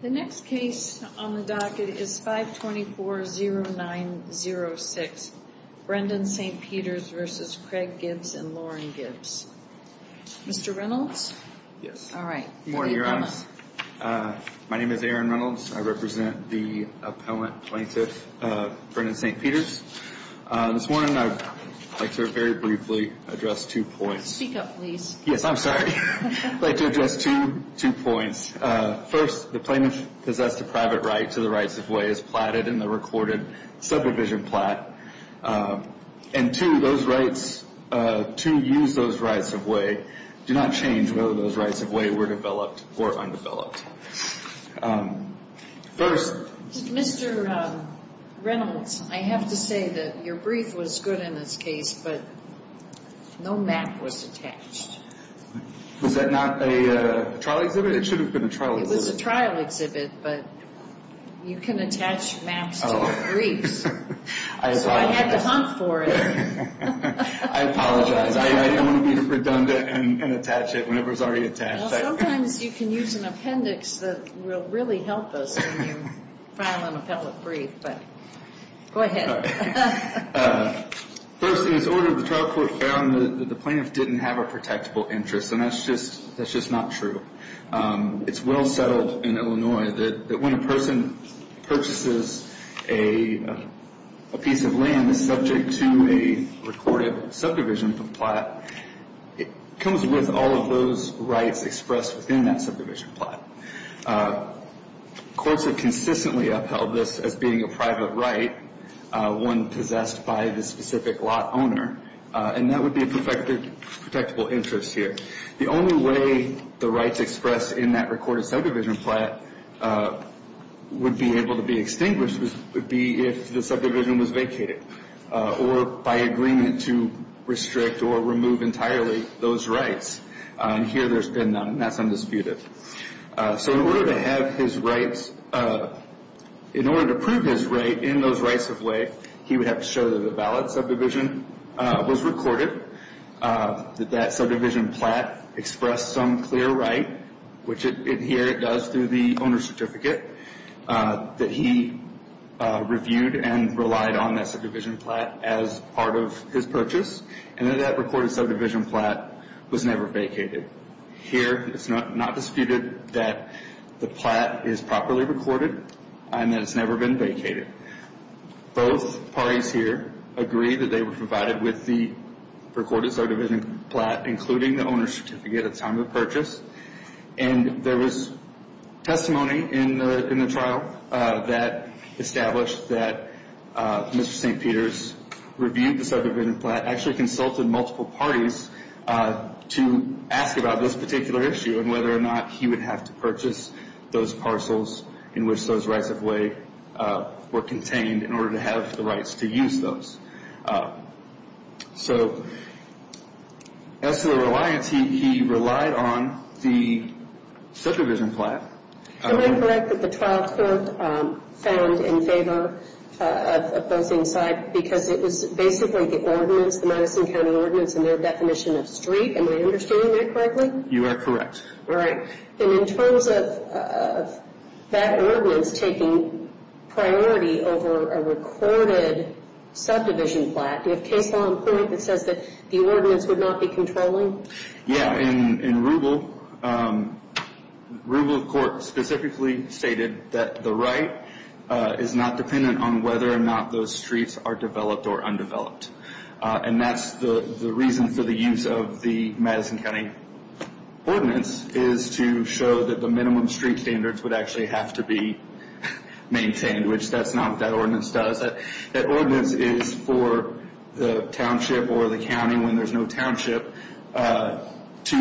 The next case on the docket is 524-0906, Brendan St. Peters v. Craig Gibbs and Lauren Gibbs. Mr. Reynolds? Yes. All right. Good morning, Your Honor. My name is Aaron Reynolds. I represent the appellant plaintiff, Brendan St. Peters. This morning, I'd like to very briefly address two points. Speak up, please. Yes, I'm sorry. I'd like to address two points. First, the plaintiff possessed a private right to the rights-of-way as platted in the recorded subdivision plat. And two, those rights to use those rights-of-way do not change whether those rights-of-way were developed or undeveloped. First— Mr. Reynolds, I have to say that your brief was good in this case, but no map was attached. Was that not a trial exhibit? It should have been a trial exhibit. It was a trial exhibit, but you can attach maps to briefs, so I had to hunt for it. I apologize. I don't want to be redundant and attach it whenever it's already attached. Well, sometimes you can use an appendix that will really help us when you file an appellate brief, but go ahead. First, in this order, the trial court found that the plaintiff didn't have a protectable interest, and that's just not true. It's well settled in Illinois that when a person purchases a piece of land that's subject to a recorded subdivision plat, it comes with all of those rights expressed within that subdivision plat. Courts have consistently upheld this as being a private right, one possessed by the specific lot owner, and that would be a protectable interest here. The only way the rights expressed in that recorded subdivision plat would be able to be extinguished would be if the subdivision was vacated or by agreement to restrict or remove entirely those rights. Here, there's been none. That's undisputed. So in order to have his rights, in order to prove his right in those rights of way, he would have to show that the valid subdivision was recorded, that that subdivision plat expressed some clear right, which here it does through the owner's certificate, that he reviewed and relied on that subdivision plat as part of his purchase, and that that recorded subdivision plat was never vacated. Here, it's not disputed that the plat is properly recorded and that it's never been vacated. Both parties here agree that they were provided with the recorded subdivision plat, including the owner's certificate at the time of purchase, and there was testimony in the trial that established that Mr. St. Peter's reviewed the subdivision plat, actually consulted multiple parties to ask about this particular issue and whether or not he would have to purchase those parcels in which those rights of way were contained in order to have the rights to use those. So as to the reliance, he relied on the subdivision plat. Am I correct that the trial court found in favor of opposing side because it was basically the ordinance, the Madison County Ordinance and their definition of street? Am I understanding that correctly? You are correct. All right. And in terms of that ordinance taking priority over a recorded subdivision plat, do you have case law in point that says that the ordinance would not be controlling? Yeah. In Rubel, Rubel Court specifically stated that the right is not dependent on whether or not those streets are developed or undeveloped. And that's the reason for the use of the Madison County Ordinance, is to show that the minimum street standards would actually have to be maintained, which that's not what that ordinance does. That ordinance is for the township or the county, when there's no township, to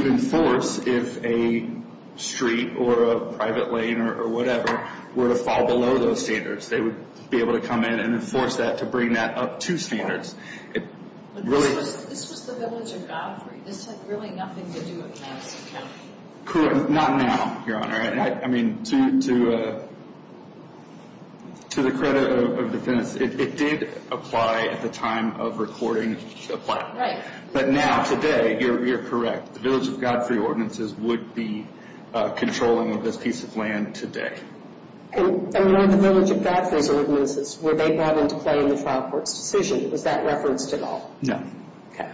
enforce if a street or a private lane or whatever were to fall below those standards. They would be able to come in and enforce that to bring that up to standards. This was the village of Godfrey. This had really nothing to do with Madison County. Correct. Not now, Your Honor. I mean, to the credit of the defense, it did apply at the time of recording the plat. Right. But now, today, you're correct. The village of Godfrey ordinances would be controlling this piece of land today. And on the village of Godfrey's ordinances, were they brought into play in the trial court's decision? Was that referenced at all? No. Okay.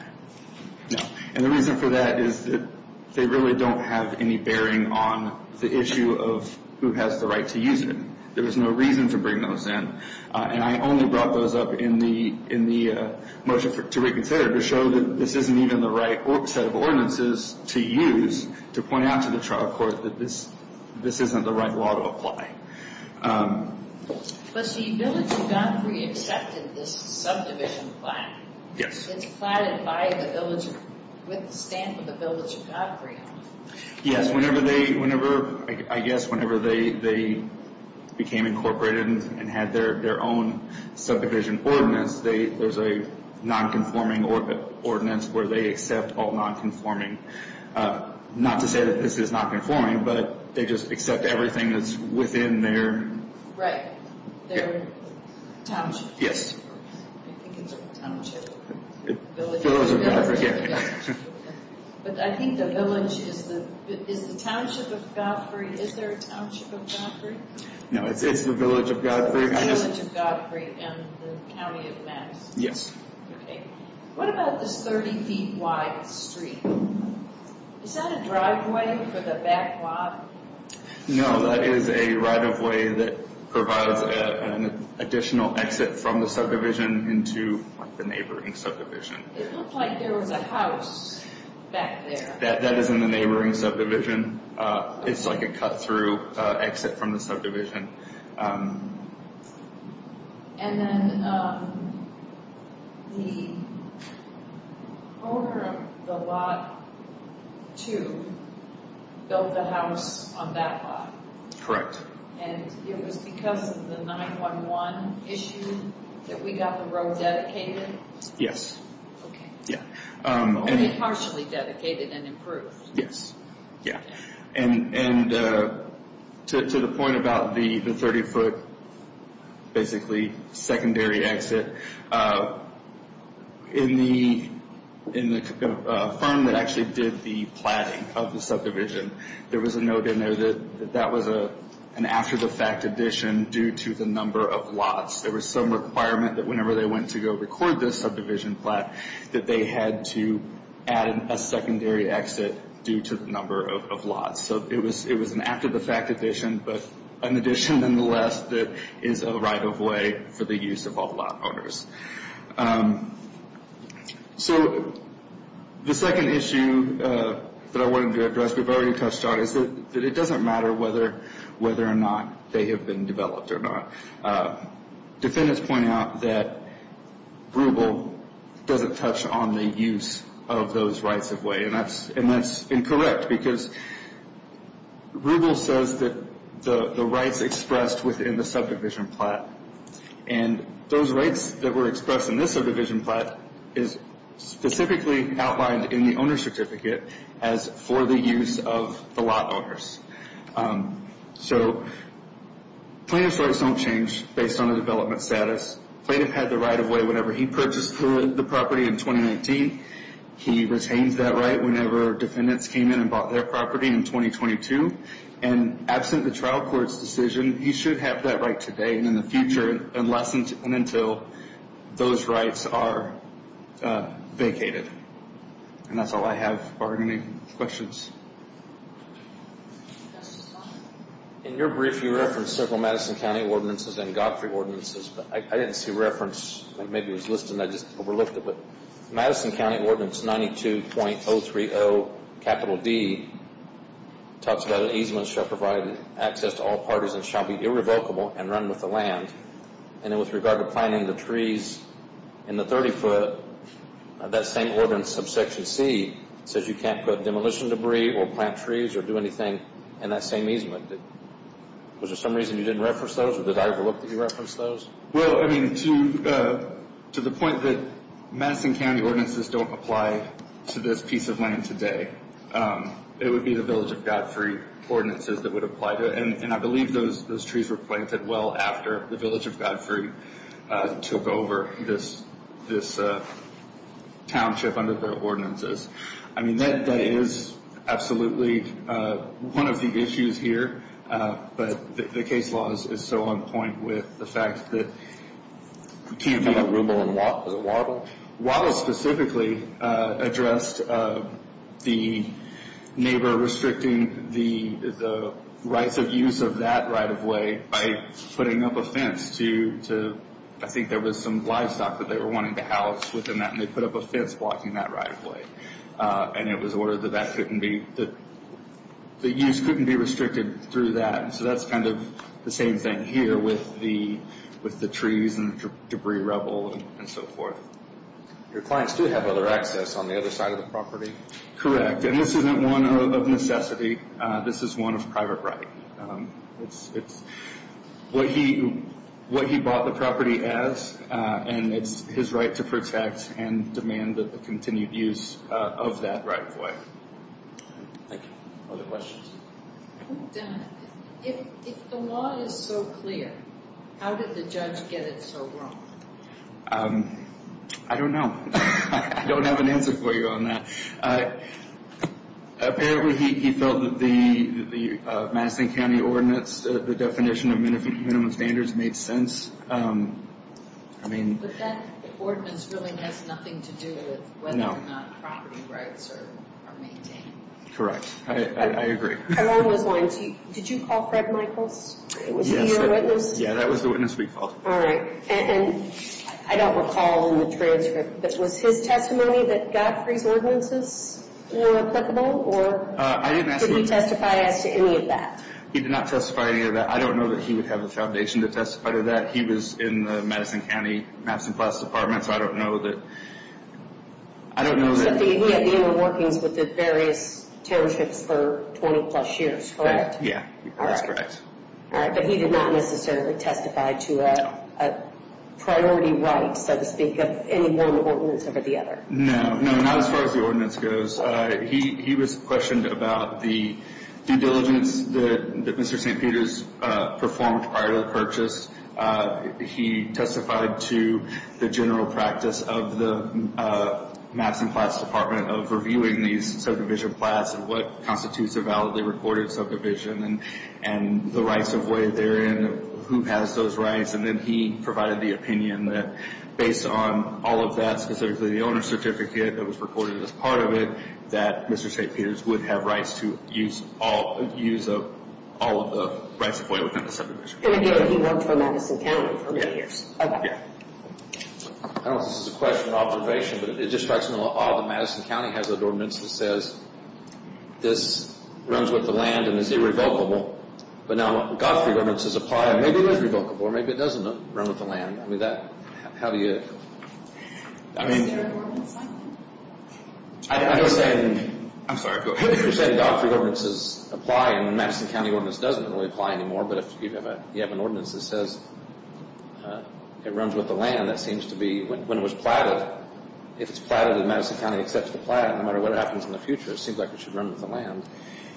No. And the reason for that is that they really don't have any bearing on the issue of who has the right to use it. There was no reason to bring those in. And I only brought those up in the motion to reconsider to show that this isn't even the right set of ordinances to use to point out to the trial court that this isn't the right law to apply. But the village of Godfrey accepted this subdivision plat. Yes. It's platted with the stamp of the village of Godfrey. Yes. I guess whenever they became incorporated and had their own subdivision ordinance, there's a nonconforming ordinance where they accept all nonconforming. Not to say that this is not conforming, but they just accept everything that's within their... Right. Their township. Yes. I think it's a township. Village of Godfrey, yeah. But I think the village is the township of Godfrey. Is there a township of Godfrey? No, it's the village of Godfrey. The village of Godfrey and the county of Madison. Yes. Okay. What about this 30 feet wide street? Is that a driveway for the back lot? No, that is a right-of-way that provides an additional exit from the subdivision into the neighboring subdivision. It looked like there was a house back there. That is in the neighboring subdivision. It's like a cut-through exit from the subdivision. And then the owner of the lot, too, built the house on that lot? Correct. And it was because of the 9-1-1 issue that we got the road dedicated? Yes. Okay. Only partially dedicated and improved. Yes. And to the point about the 30-foot, basically, secondary exit, in the firm that actually did the platting of the subdivision, there was a note in there that that was an after-the-fact addition due to the number of lots. There was some requirement that whenever they went to go record this subdivision plat, that they had to add a secondary exit due to the number of lots. So it was an after-the-fact addition, but an addition, nonetheless, that is a right-of-way for the use of all lot owners. So the second issue that I wanted to address, we've already touched on, is that it doesn't matter whether or not they have been developed or not. Defendants point out that RUBLE doesn't touch on the use of those rights-of-way, and that's incorrect because RUBLE says that the rights expressed within the subdivision plat, and those rights that were expressed in this subdivision plat is specifically outlined in the owner's certificate as for the use of the lot owners. So plaintiff's rights don't change based on the development status. Plaintiff had the right-of-way whenever he purchased the property in 2019. He retains that right whenever defendants came in and bought their property in 2022. And absent the trial court's decision, he should have that right today and in the future, unless and until those rights are vacated. And that's all I have. Are there any questions? In your brief, you referenced several Madison County ordinances and Godfrey ordinances, but I didn't see a reference. Maybe it was listed and I just overlooked it. Madison County Ordinance 92.030 capital D talks about easements shall provide access to all parties and shall be irrevocable and run with the land. And then with regard to planting the trees in the 30-foot, that same ordinance of Section C says you can't put demolition debris or plant trees or do anything in that same easement. Was there some reason you didn't reference those, or did I overlook that you referenced those? Well, I mean, to the point that Madison County ordinances don't apply to this piece of land today, it would be the Village of Godfrey ordinances that would apply to it. And I believe those trees were planted well after the Village of Godfrey took over this township under their ordinances. I mean, that is absolutely one of the issues here, but the case law is so on point with the fact that Can you talk about Rubel and Waddell? Waddell specifically addressed the neighbor restricting the rights of use of that right-of-way by putting up a fence to, I think there was some livestock that they were wanting to house within that, and they put up a fence blocking that right-of-way. And it was ordered that the use couldn't be restricted through that. So that's kind of the same thing here with the trees and the debris rubble and so forth. Your clients do have other access on the other side of the property? Correct, and this isn't one of necessity. This is one of private right. It's what he bought the property as, and it's his right to protect and demand the continued use of that right-of-way. Thank you. Other questions? If the law is so clear, how did the judge get it so wrong? I don't know. I don't have an answer for you on that. Apparently he felt that the Madison County ordinance, the definition of minimum standards made sense. But that ordinance really has nothing to do with whether or not property rights are maintained. Correct. I agree. Did you call Fred Michaels? Was he your witness? Yeah, that was the witness we called. All right, and I don't recall in the transcript, but was his testimony that Godfrey's ordinances were applicable, or did he testify as to any of that? He did not testify to any of that. I don't know that he would have the foundation to testify to that. He was in the Madison County Maps and Plots Department, so I don't know that. So he had been in workings with the various townships for 20-plus years, correct? Yeah, that's correct. All right, but he did not necessarily testify to a priority right, so to speak, of any one ordinance over the other. No, no, not as far as the ordinance goes. He was questioned about the due diligence that Mr. St. Peter's performed prior to the purchase. He testified to the general practice of the Maps and Plots Department of reviewing these subdivision plots and what constitutes a validly recorded subdivision and the rights of way therein, who has those rights, and then he provided the opinion that based on all of that, specifically the owner's certificate that was recorded as part of it, that Mr. St. Peter's would have rights to use all of the rights of way within the subdivision. And again, he worked for Madison County for many years. I don't know if this is a question or observation, but it just strikes me as odd that Madison County has an ordinance that says this runs with the land and is irrevocable, but now Godfrey ordinances apply and maybe it is revocable, or maybe it doesn't run with the land. I mean, how do you... Is there an ordinance like that? I'm sorry, go ahead. You're saying Godfrey ordinances apply and the Madison County ordinance doesn't really apply anymore, but if you have an ordinance that says it runs with the land, that seems to be... When it was plotted, if it's plotted and Madison County accepts the plot, no matter what happens in the future, it seems like it should run with the land.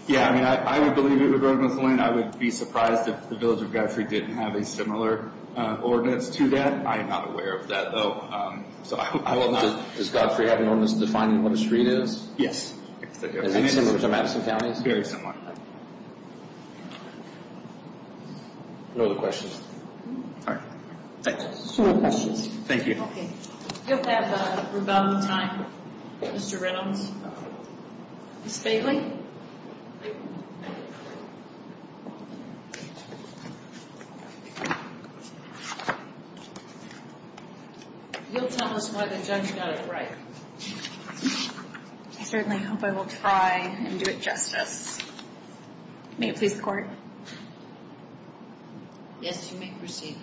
Yeah, I mean, I would believe it would run with the land. I would be surprised if the village of Godfrey didn't have a similar ordinance to that. I am not aware of that, though, so I will not... Does Godfrey have an ordinance defining what a street is? Yes. Is it similar to Madison County's? Very similar. No other questions? All right. Thanks. No more questions. Thank you. Okay. You'll have rebuttal time, Mr. Reynolds. Ms. Bailey? You'll tell us why the judge got it right. I certainly hope I will try and do it justice. May it please the Court? Yes, you may proceed.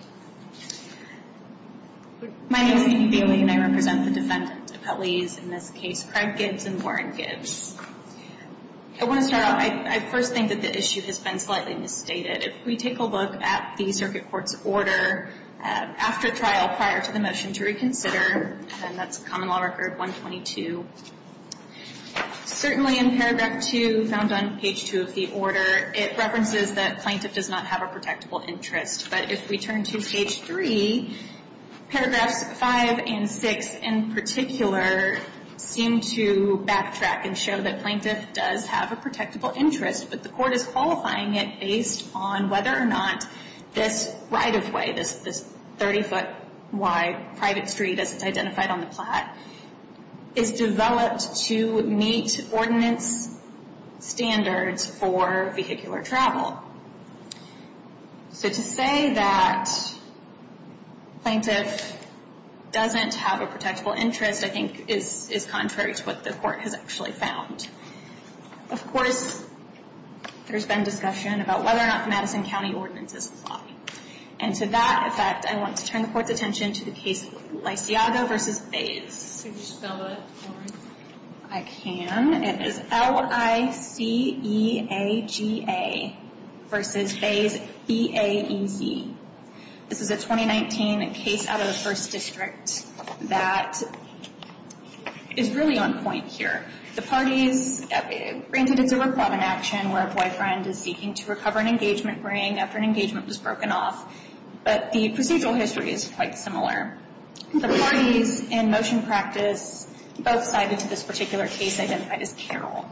My name is Amy Bailey, and I represent the Defendant Appellees, in this case, Craig Gibbs and Warren Gibbs. I want to start off. I first think that the issue has been slightly misstated. If we take a look at the Circuit Court's order after trial prior to the motion to reconsider, and that's Common Law Record 122, certainly in paragraph 2, found on page 2 of the order, it references that plaintiff does not have a protectable interest. But if we turn to page 3, paragraphs 5 and 6, in particular, seem to backtrack and show that plaintiff does have a protectable interest, but the Court is qualifying it based on whether or not this right-of-way, this 30-foot-wide private street, as it's identified on the plat, is developed to meet ordinance standards for vehicular travel. So to say that plaintiff doesn't have a protectable interest, I think, is contrary to what the Court has actually found. Of course, there's been discussion about whether or not the Madison County Ordinances apply. And to that effect, I want to turn the Court's attention to the case Lysiago v. Bays. Could you spell that for me? I can. It is L-I-C-E-A-G-A v. Bays, B-A-E-Z. This is a 2019 case out of the 1st District that is really on point here. The parties, granted it's a reclaimed action where a boyfriend is seeking to recover an engagement ring after an engagement was broken off, but the procedural history is quite similar. The parties in motion practice both cited to this particular case identified as peril.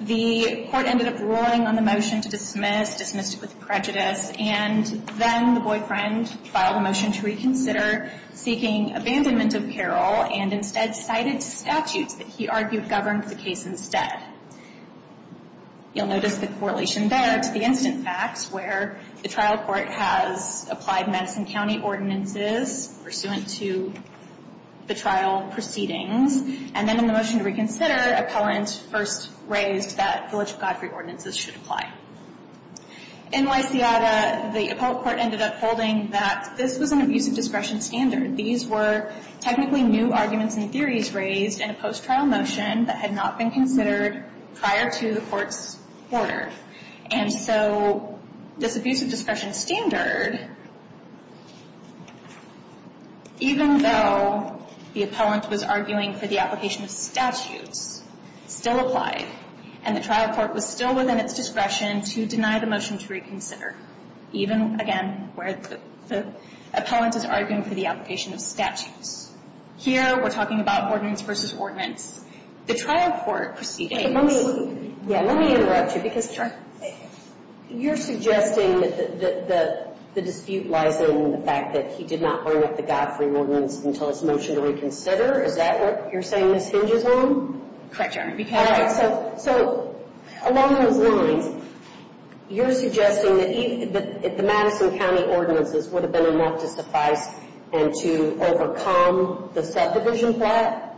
The Court ended up ruling on the motion to dismiss, dismissed it with prejudice, and then the boyfriend filed a motion to reconsider seeking abandonment of peril and instead cited statutes that he argued governed the case instead. You'll notice the correlation there to the incident facts, where the trial court has applied Madison County Ordinances pursuant to the trial proceedings. And then in the motion to reconsider, appellant first raised that Village of Godfrey Ordinances should apply. In Lysiago, the appellate court ended up holding that this was an abuse of discretion standard. These were technically new arguments and theories raised in a post-trial motion that had not been considered prior to the Court's order. And so this abuse of discretion standard, even though the appellant was arguing for the application of statutes, still applied. And the trial court was still within its discretion to deny the motion to reconsider, even, again, where the appellant is arguing for the application of statutes. Here, we're talking about ordinance versus ordinance. The trial court proceedings ---- But let me ---- Yeah. Let me interrupt you because ---- Sure. You're suggesting that the dispute lies in the fact that he did not bring up the Godfrey Ordinance until his motion to reconsider? Is that what you're saying this hinges on? Correct, Your Honor. Because ---- All right. So along those lines, you're suggesting that the Madison County Ordinances would have been enough to suffice and to overcome the subdivision plot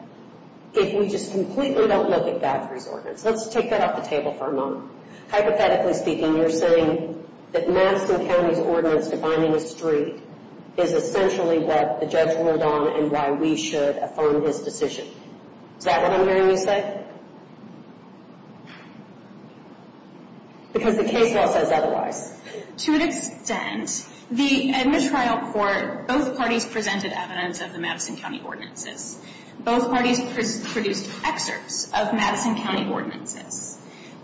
if we just completely don't look at Godfrey's Ordinance. Let's take that off the table for a moment. Hypothetically speaking, you're saying that Madison County's ordinance defining a street is essentially what the judge ruled on and why we should affirm his decision. Is that what I'm hearing you say? Because the case law says otherwise. To an extent, at the trial court, both parties presented evidence of the Madison County Ordinances. Both parties produced excerpts of Madison County Ordinances.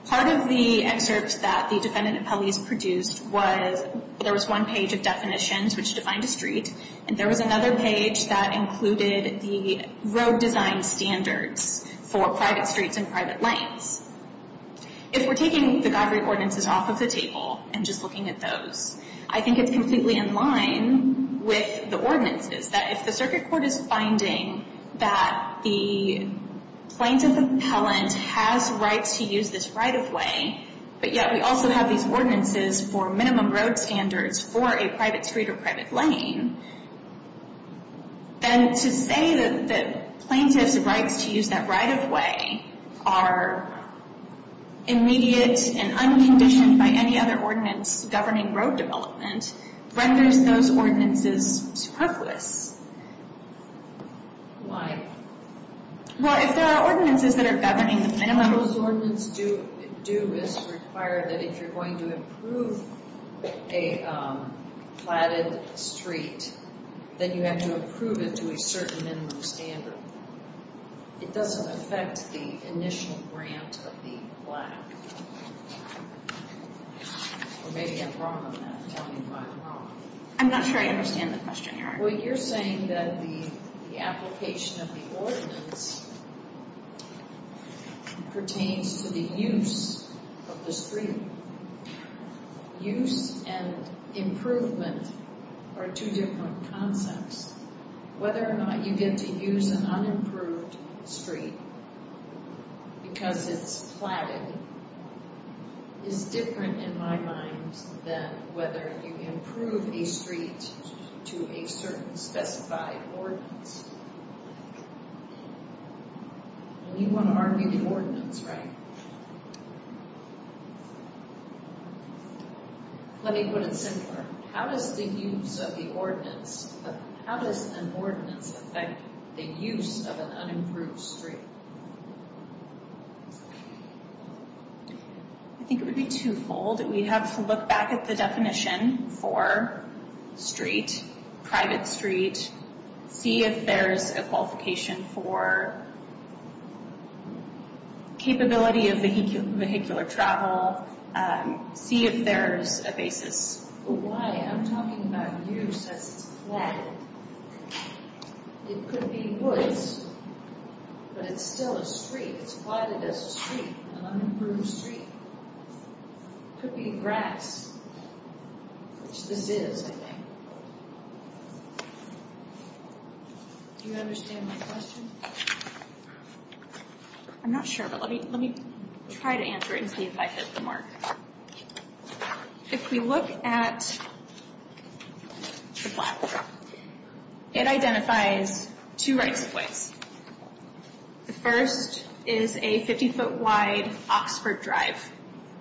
Part of the excerpts that the defendant appellees produced was there was one page of definitions which defined a street, and there was another page that included the road design standards for private streets and private lanes. If we're taking the Godfrey Ordinances off of the table and just looking at those, I think it's completely in line with the ordinances. That if the circuit court is finding that the plaintiff appellant has rights to use this right-of-way, but yet we also have these ordinances for minimum road standards for a private street or private lane, then to say that plaintiff's rights to use that right-of-way are immediate and unconditioned by any other ordinance governing road development renders those ordinances superfluous. Why? Well, if there are ordinances that are governing the minimum... The ordinance do require that if you're going to approve a platted street, that you have to approve it to a certain minimum standard. It doesn't affect the initial grant of the plaque. Or maybe I'm wrong on that. Tell me if I'm wrong. I'm not sure I understand the question, Eric. Well, you're saying that the application of the ordinance pertains to the use of the street. Use and improvement are two different concepts. Whether or not you get to use an unimproved street because it's platted is different in my mind than whether you improve a street to a certain specified ordinance. You want to argue the ordinance, right? Let me put it simpler. How does the use of the ordinance... How does an ordinance affect the use of an unimproved street? I think it would be twofold. We'd have to look back at the definition for street, private street, see if there's a qualification for capability of vehicular travel, see if there's a basis. Why? I'm talking about use as it's platted. It could be woods, but it's still a street. It's platted as a street, an unimproved street. It could be grass, which this is, I think. Do you understand my question? I'm not sure, but let me try to answer it and see if I hit the mark. If we look at the platform, it identifies two rights of ways. The first is a 50-foot-wide Oxford Drive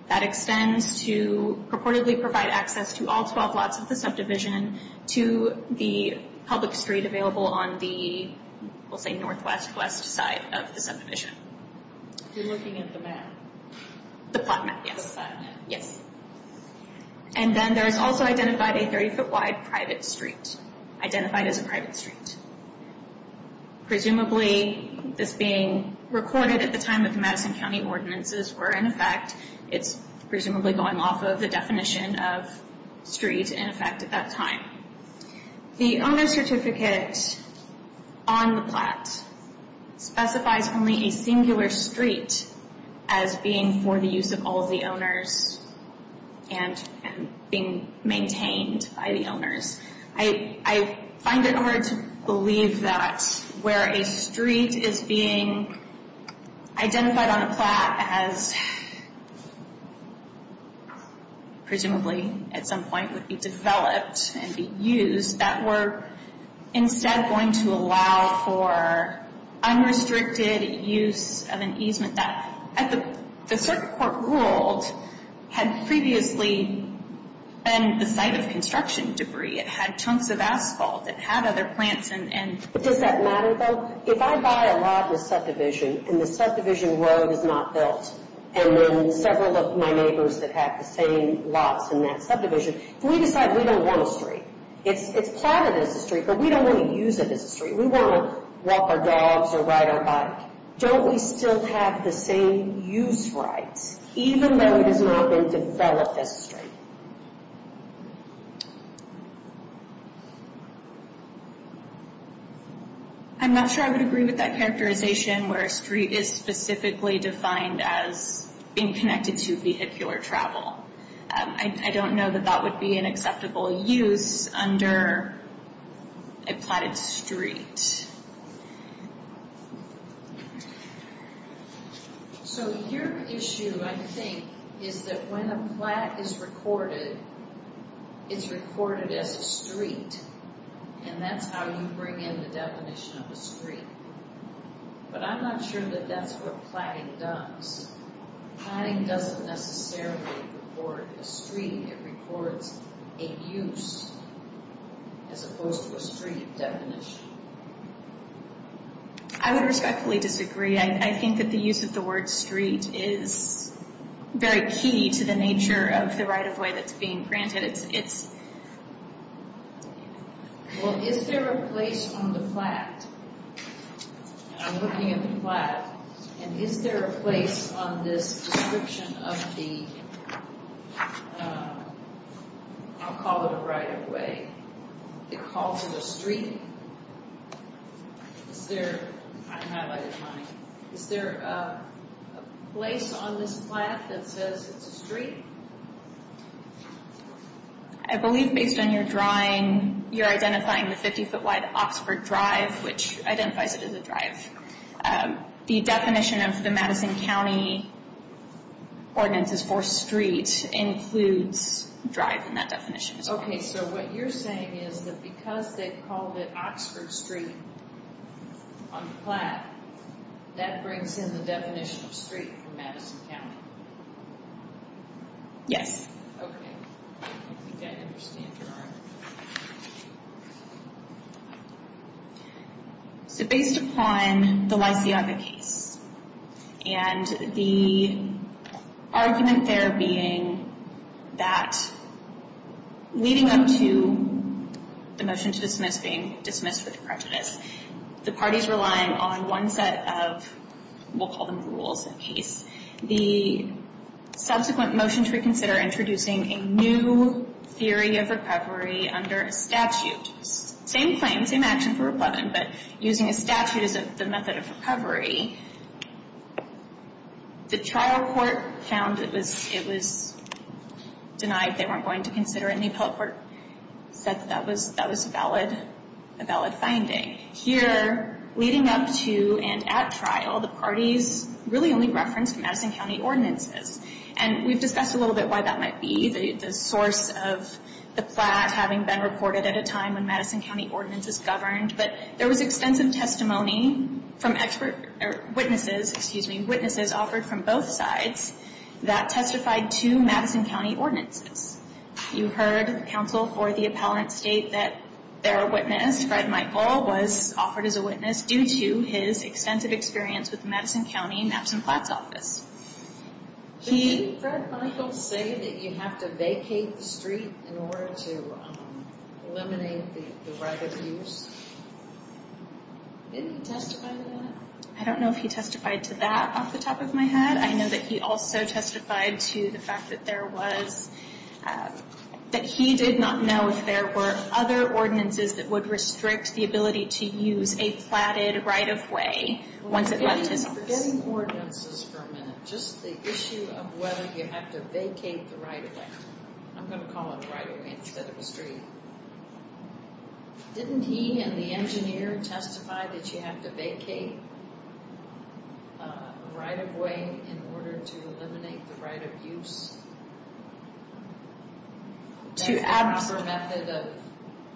that extends to purportedly provide access to all 12 lots of the subdivision to the public street available on the, we'll say, northwest-west side of the subdivision. You're looking at the map? The plot map, yes. And then there is also identified a 30-foot-wide private street, identified as a private street. Presumably, this being recorded at the time of the Madison County ordinances where, in effect, it's presumably going off of the definition of street, in effect, at that time. The owner's certificate on the plat specifies only a singular street as being for the use of all of the owners and being maintained by the owners. I find it hard to believe that where a street is being identified on a plat as presumably at some point would be developed and be used, that we're instead going to allow for unrestricted use of an easement The circuit court ruled had previously been the site of construction debris. It had chunks of asphalt. It had other plants. Does that matter, though? If I buy a lot of the subdivision and the subdivision road is not built and then several of my neighbors that have the same lots in that subdivision, if we decide we don't want a street, it's plotted as a street, but we don't want to use it as a street. We want to walk our dogs or ride our bike. Don't we still have the same use rights, even though it has not been developed as a street? I'm not sure I would agree with that characterization where a street is specifically defined as being connected to vehicular travel. I don't know that that would be an acceptable use under a plotted street. So your issue, I think, is that when a plat is recorded, it's recorded as a street, and that's how you bring in the definition of a street. But I'm not sure that that's what plotting does. Plotting doesn't necessarily record a street. It records a use as opposed to a street definition. I would respectfully disagree. I think that the use of the word street is very key to the nature of the right-of-way that's being granted. Well, is there a place on the plat, and I'm looking at the plat, and is there a place on this description of the, I'll call it a right-of-way, that calls it a street? Is there a place on this plat that says it's a street? I believe based on your drawing, you're identifying the 50-foot-wide Oxford Drive, which identifies it as a drive. The definition of the Madison County ordinances for street includes drive in that definition as well. Okay, so what you're saying is that because they called it Oxford Street on the plat, that brings in the definition of street for Madison County? Yes. Okay. I think I understand your argument. So based upon the Lysiaga case, and the argument there being that leading up to the motion to dismiss being dismissed with prejudice, the parties relying on one set of, we'll call them the rules of the case, the subsequent motion to reconsider introducing a new theory of recovery under a statute, same claim, same action for rebuttal, but using a statute as the method of recovery, the trial court found it was denied, they weren't going to consider it, and the appellate court said that that was a valid finding. Okay. Here, leading up to and at trial, the parties really only referenced Madison County ordinances. And we've discussed a little bit why that might be, the source of the plat having been reported at a time when Madison County ordinances governed, but there was extensive testimony from witnesses offered from both sides that testified to Madison County ordinances. You heard counsel for the appellate state that their witness, Fred Michael, was offered as a witness due to his extensive experience with the Madison County maps and plats office. Did Fred Michael say that you have to vacate the street in order to eliminate the right of use? Didn't he testify to that? I don't know if he testified to that off the top of my head. I know that he also testified to the fact that there was, that he did not know if there were other ordinances that would restrict the ability to use a platted right-of-way once it left his office. We're forgetting ordinances for a minute. Just the issue of whether you have to vacate the right-of-way. I'm going to call it the right-of-way instead of a street. Didn't he and the engineer testify that you have to vacate right-of-way in order to eliminate the right of use? That's the proper method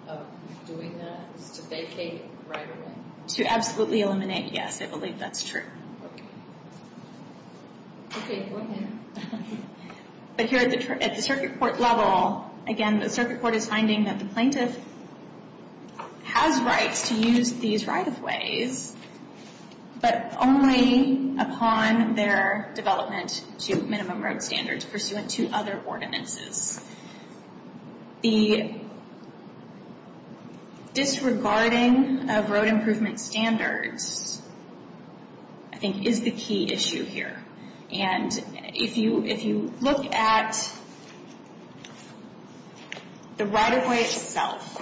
of doing that, is to vacate right-of-way. To absolutely eliminate, yes, I believe that's true. Okay, go ahead. But here at the circuit court level, again, the circuit court is finding that the plaintiff has rights to use these right-of-ways, but only upon their development to minimum road standards pursuant to other ordinances. The disregarding of road improvement standards, I think, is the key issue here. And if you look at the right-of-way itself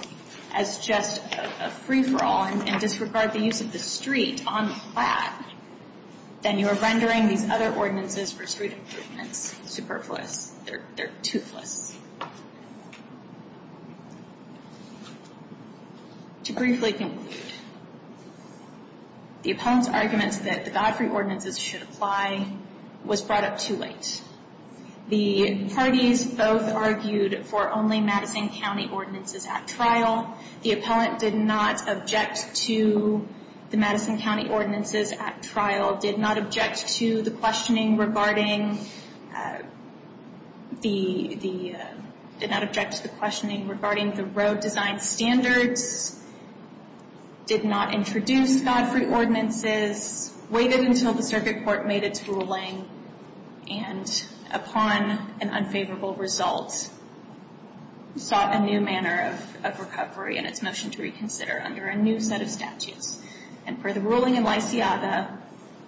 as just a free-for-all and disregard the use of the street on the plat, then you are rendering these other ordinances for street improvements superfluous. They're toothless. To briefly conclude, the appellant's argument that the Godfrey ordinances should apply was brought up too late. The parties both argued for only Madison County Ordinances at trial. The appellant did not object to the Madison County Ordinances at trial, did not object to the questioning regarding the road design standards, did not introduce Godfrey ordinances, waited until the circuit court made its ruling, and upon an unfavorable result, sought a new manner of recovery and its motion to reconsider under a new set of statutes. And per the ruling in Lysiaga,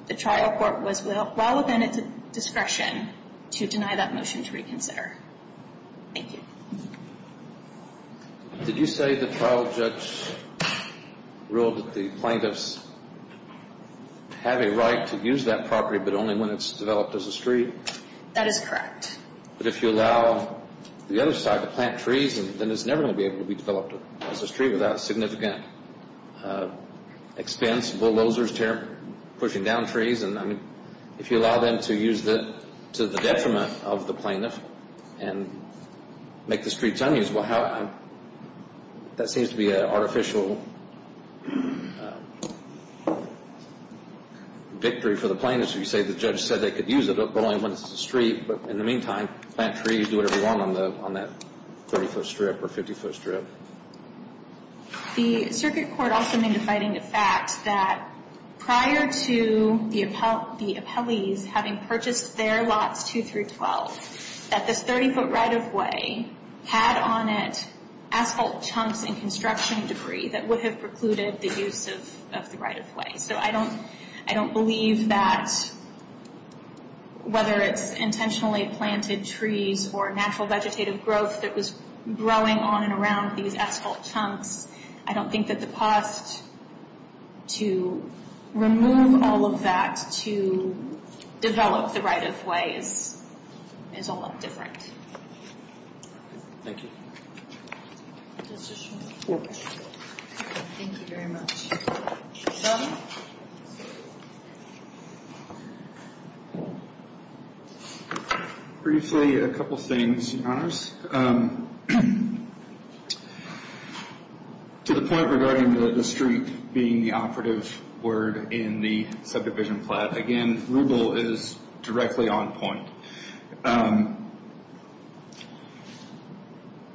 the trial court was well within its discretion to deny that motion to reconsider. Thank you. Did you say the trial judge ruled that the plaintiffs have a right to use that property but only when it's developed as a street? That is correct. But if you allow the other side to plant trees, then it's never going to be able to be developed as a street without significant expense, bulldozers pushing down trees. And if you allow them to use it to the detriment of the plaintiff and make the streets unusable, that seems to be an artificial victory for the plaintiffs. So you say the judge said they could use it, but only when it's a street. But in the meantime, plant trees, do whatever you want on that 30-foot strip or 50-foot strip. The circuit court also made a finding of fact that prior to the appellees having purchased their lots 2 through 12, that this 30-foot right-of-way had on it asphalt chunks and construction debris that would have precluded the use of the right-of-way. So I don't believe that whether it's intentionally planted trees or natural vegetative growth that was growing on and around these asphalt chunks, I don't think that the cost to remove all of that to develop the right-of-way is all that different. Thank you. Thank you very much. John? Briefly, a couple things, Your Honors. To the point regarding the street being the operative word in the subdivision plat, again, Rubel is directly on point.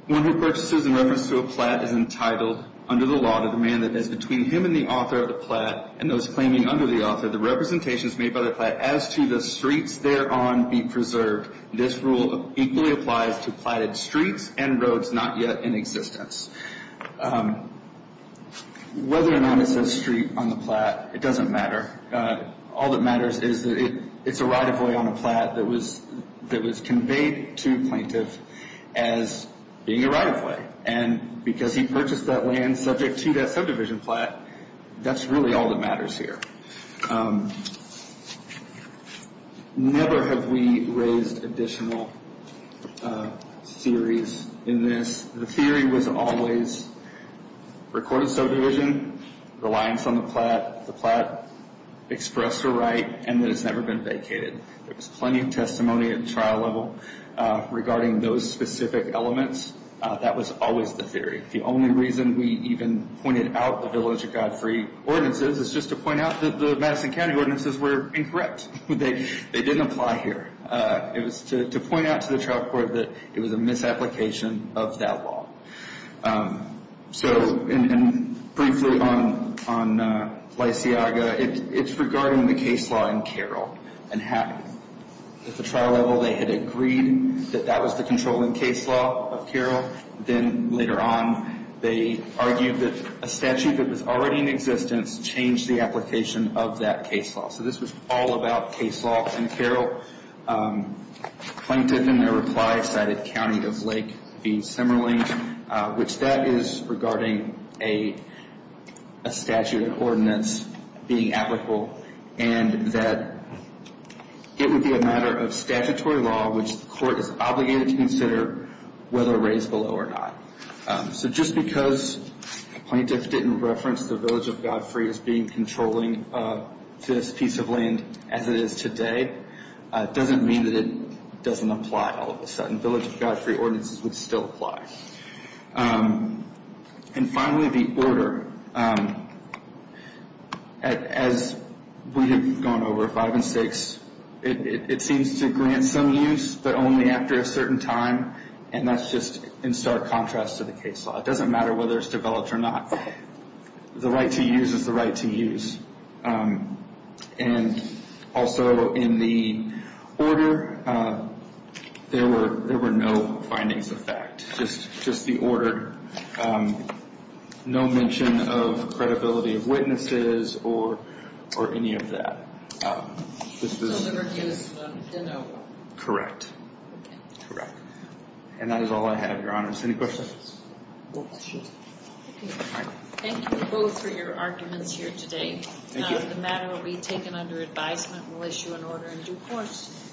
One who purchases in reference to a plat is entitled under the law to demand that as between him and the author of the plat, and those claiming under the author, the representations made by the plat as to the streets thereon be preserved. This rule equally applies to platted streets and roads not yet in existence. Whether or not it says street on the plat, it doesn't matter. All that matters is that it's a right-of-way on a plat that was conveyed to a plaintiff as being a right-of-way. And because he purchased that land subject to that subdivision plat, that's really all that matters here. Never have we raised additional theories in this. The theory was always recorded subdivision, the lines on the plat, the plat expressed a right, and that it's never been vacated. There was plenty of testimony at the trial level regarding those specific elements. That was always the theory. The only reason we even pointed out the Village of Godfrey ordinances is just to point out that the Madison County ordinances were incorrect. They didn't apply here. It was to point out to the trial court that it was a misapplication of that law. So, and briefly on Lysiaga, it's regarding the case law in Carroll and Hatton. At the trial level, they had agreed that that was the controlling case law of Carroll. Then later on, they argued that a statute that was already in existence changed the application of that case law. So this was all about case law in Carroll. Plaintiff, in their reply, cited County of Lake v. Semerling, which that is regarding a statute of ordinance being applicable, and that it would be a matter of statutory law, which the court is obligated to consider whether to raise the law or not. So just because plaintiffs didn't reference the Village of Godfrey as being controlling this piece of land as it is today, doesn't mean that it doesn't apply all of a sudden. Village of Godfrey ordinances would still apply. And finally, the order. As we have gone over five and six, it seems to grant some use, but only after a certain time, and that's just in stark contrast to the case law. It doesn't matter whether it's developed or not. The right to use is the right to use. And also in the order, there were no findings of fact, just the order. No mention of credibility of witnesses or any of that. So liberty is no? Correct. Okay. Correct. And that is all I have, Your Honors. Any questions? No questions. Thank you both for your arguments here today. Thank you. The matter will be taken under advisement. We'll issue an order in due course.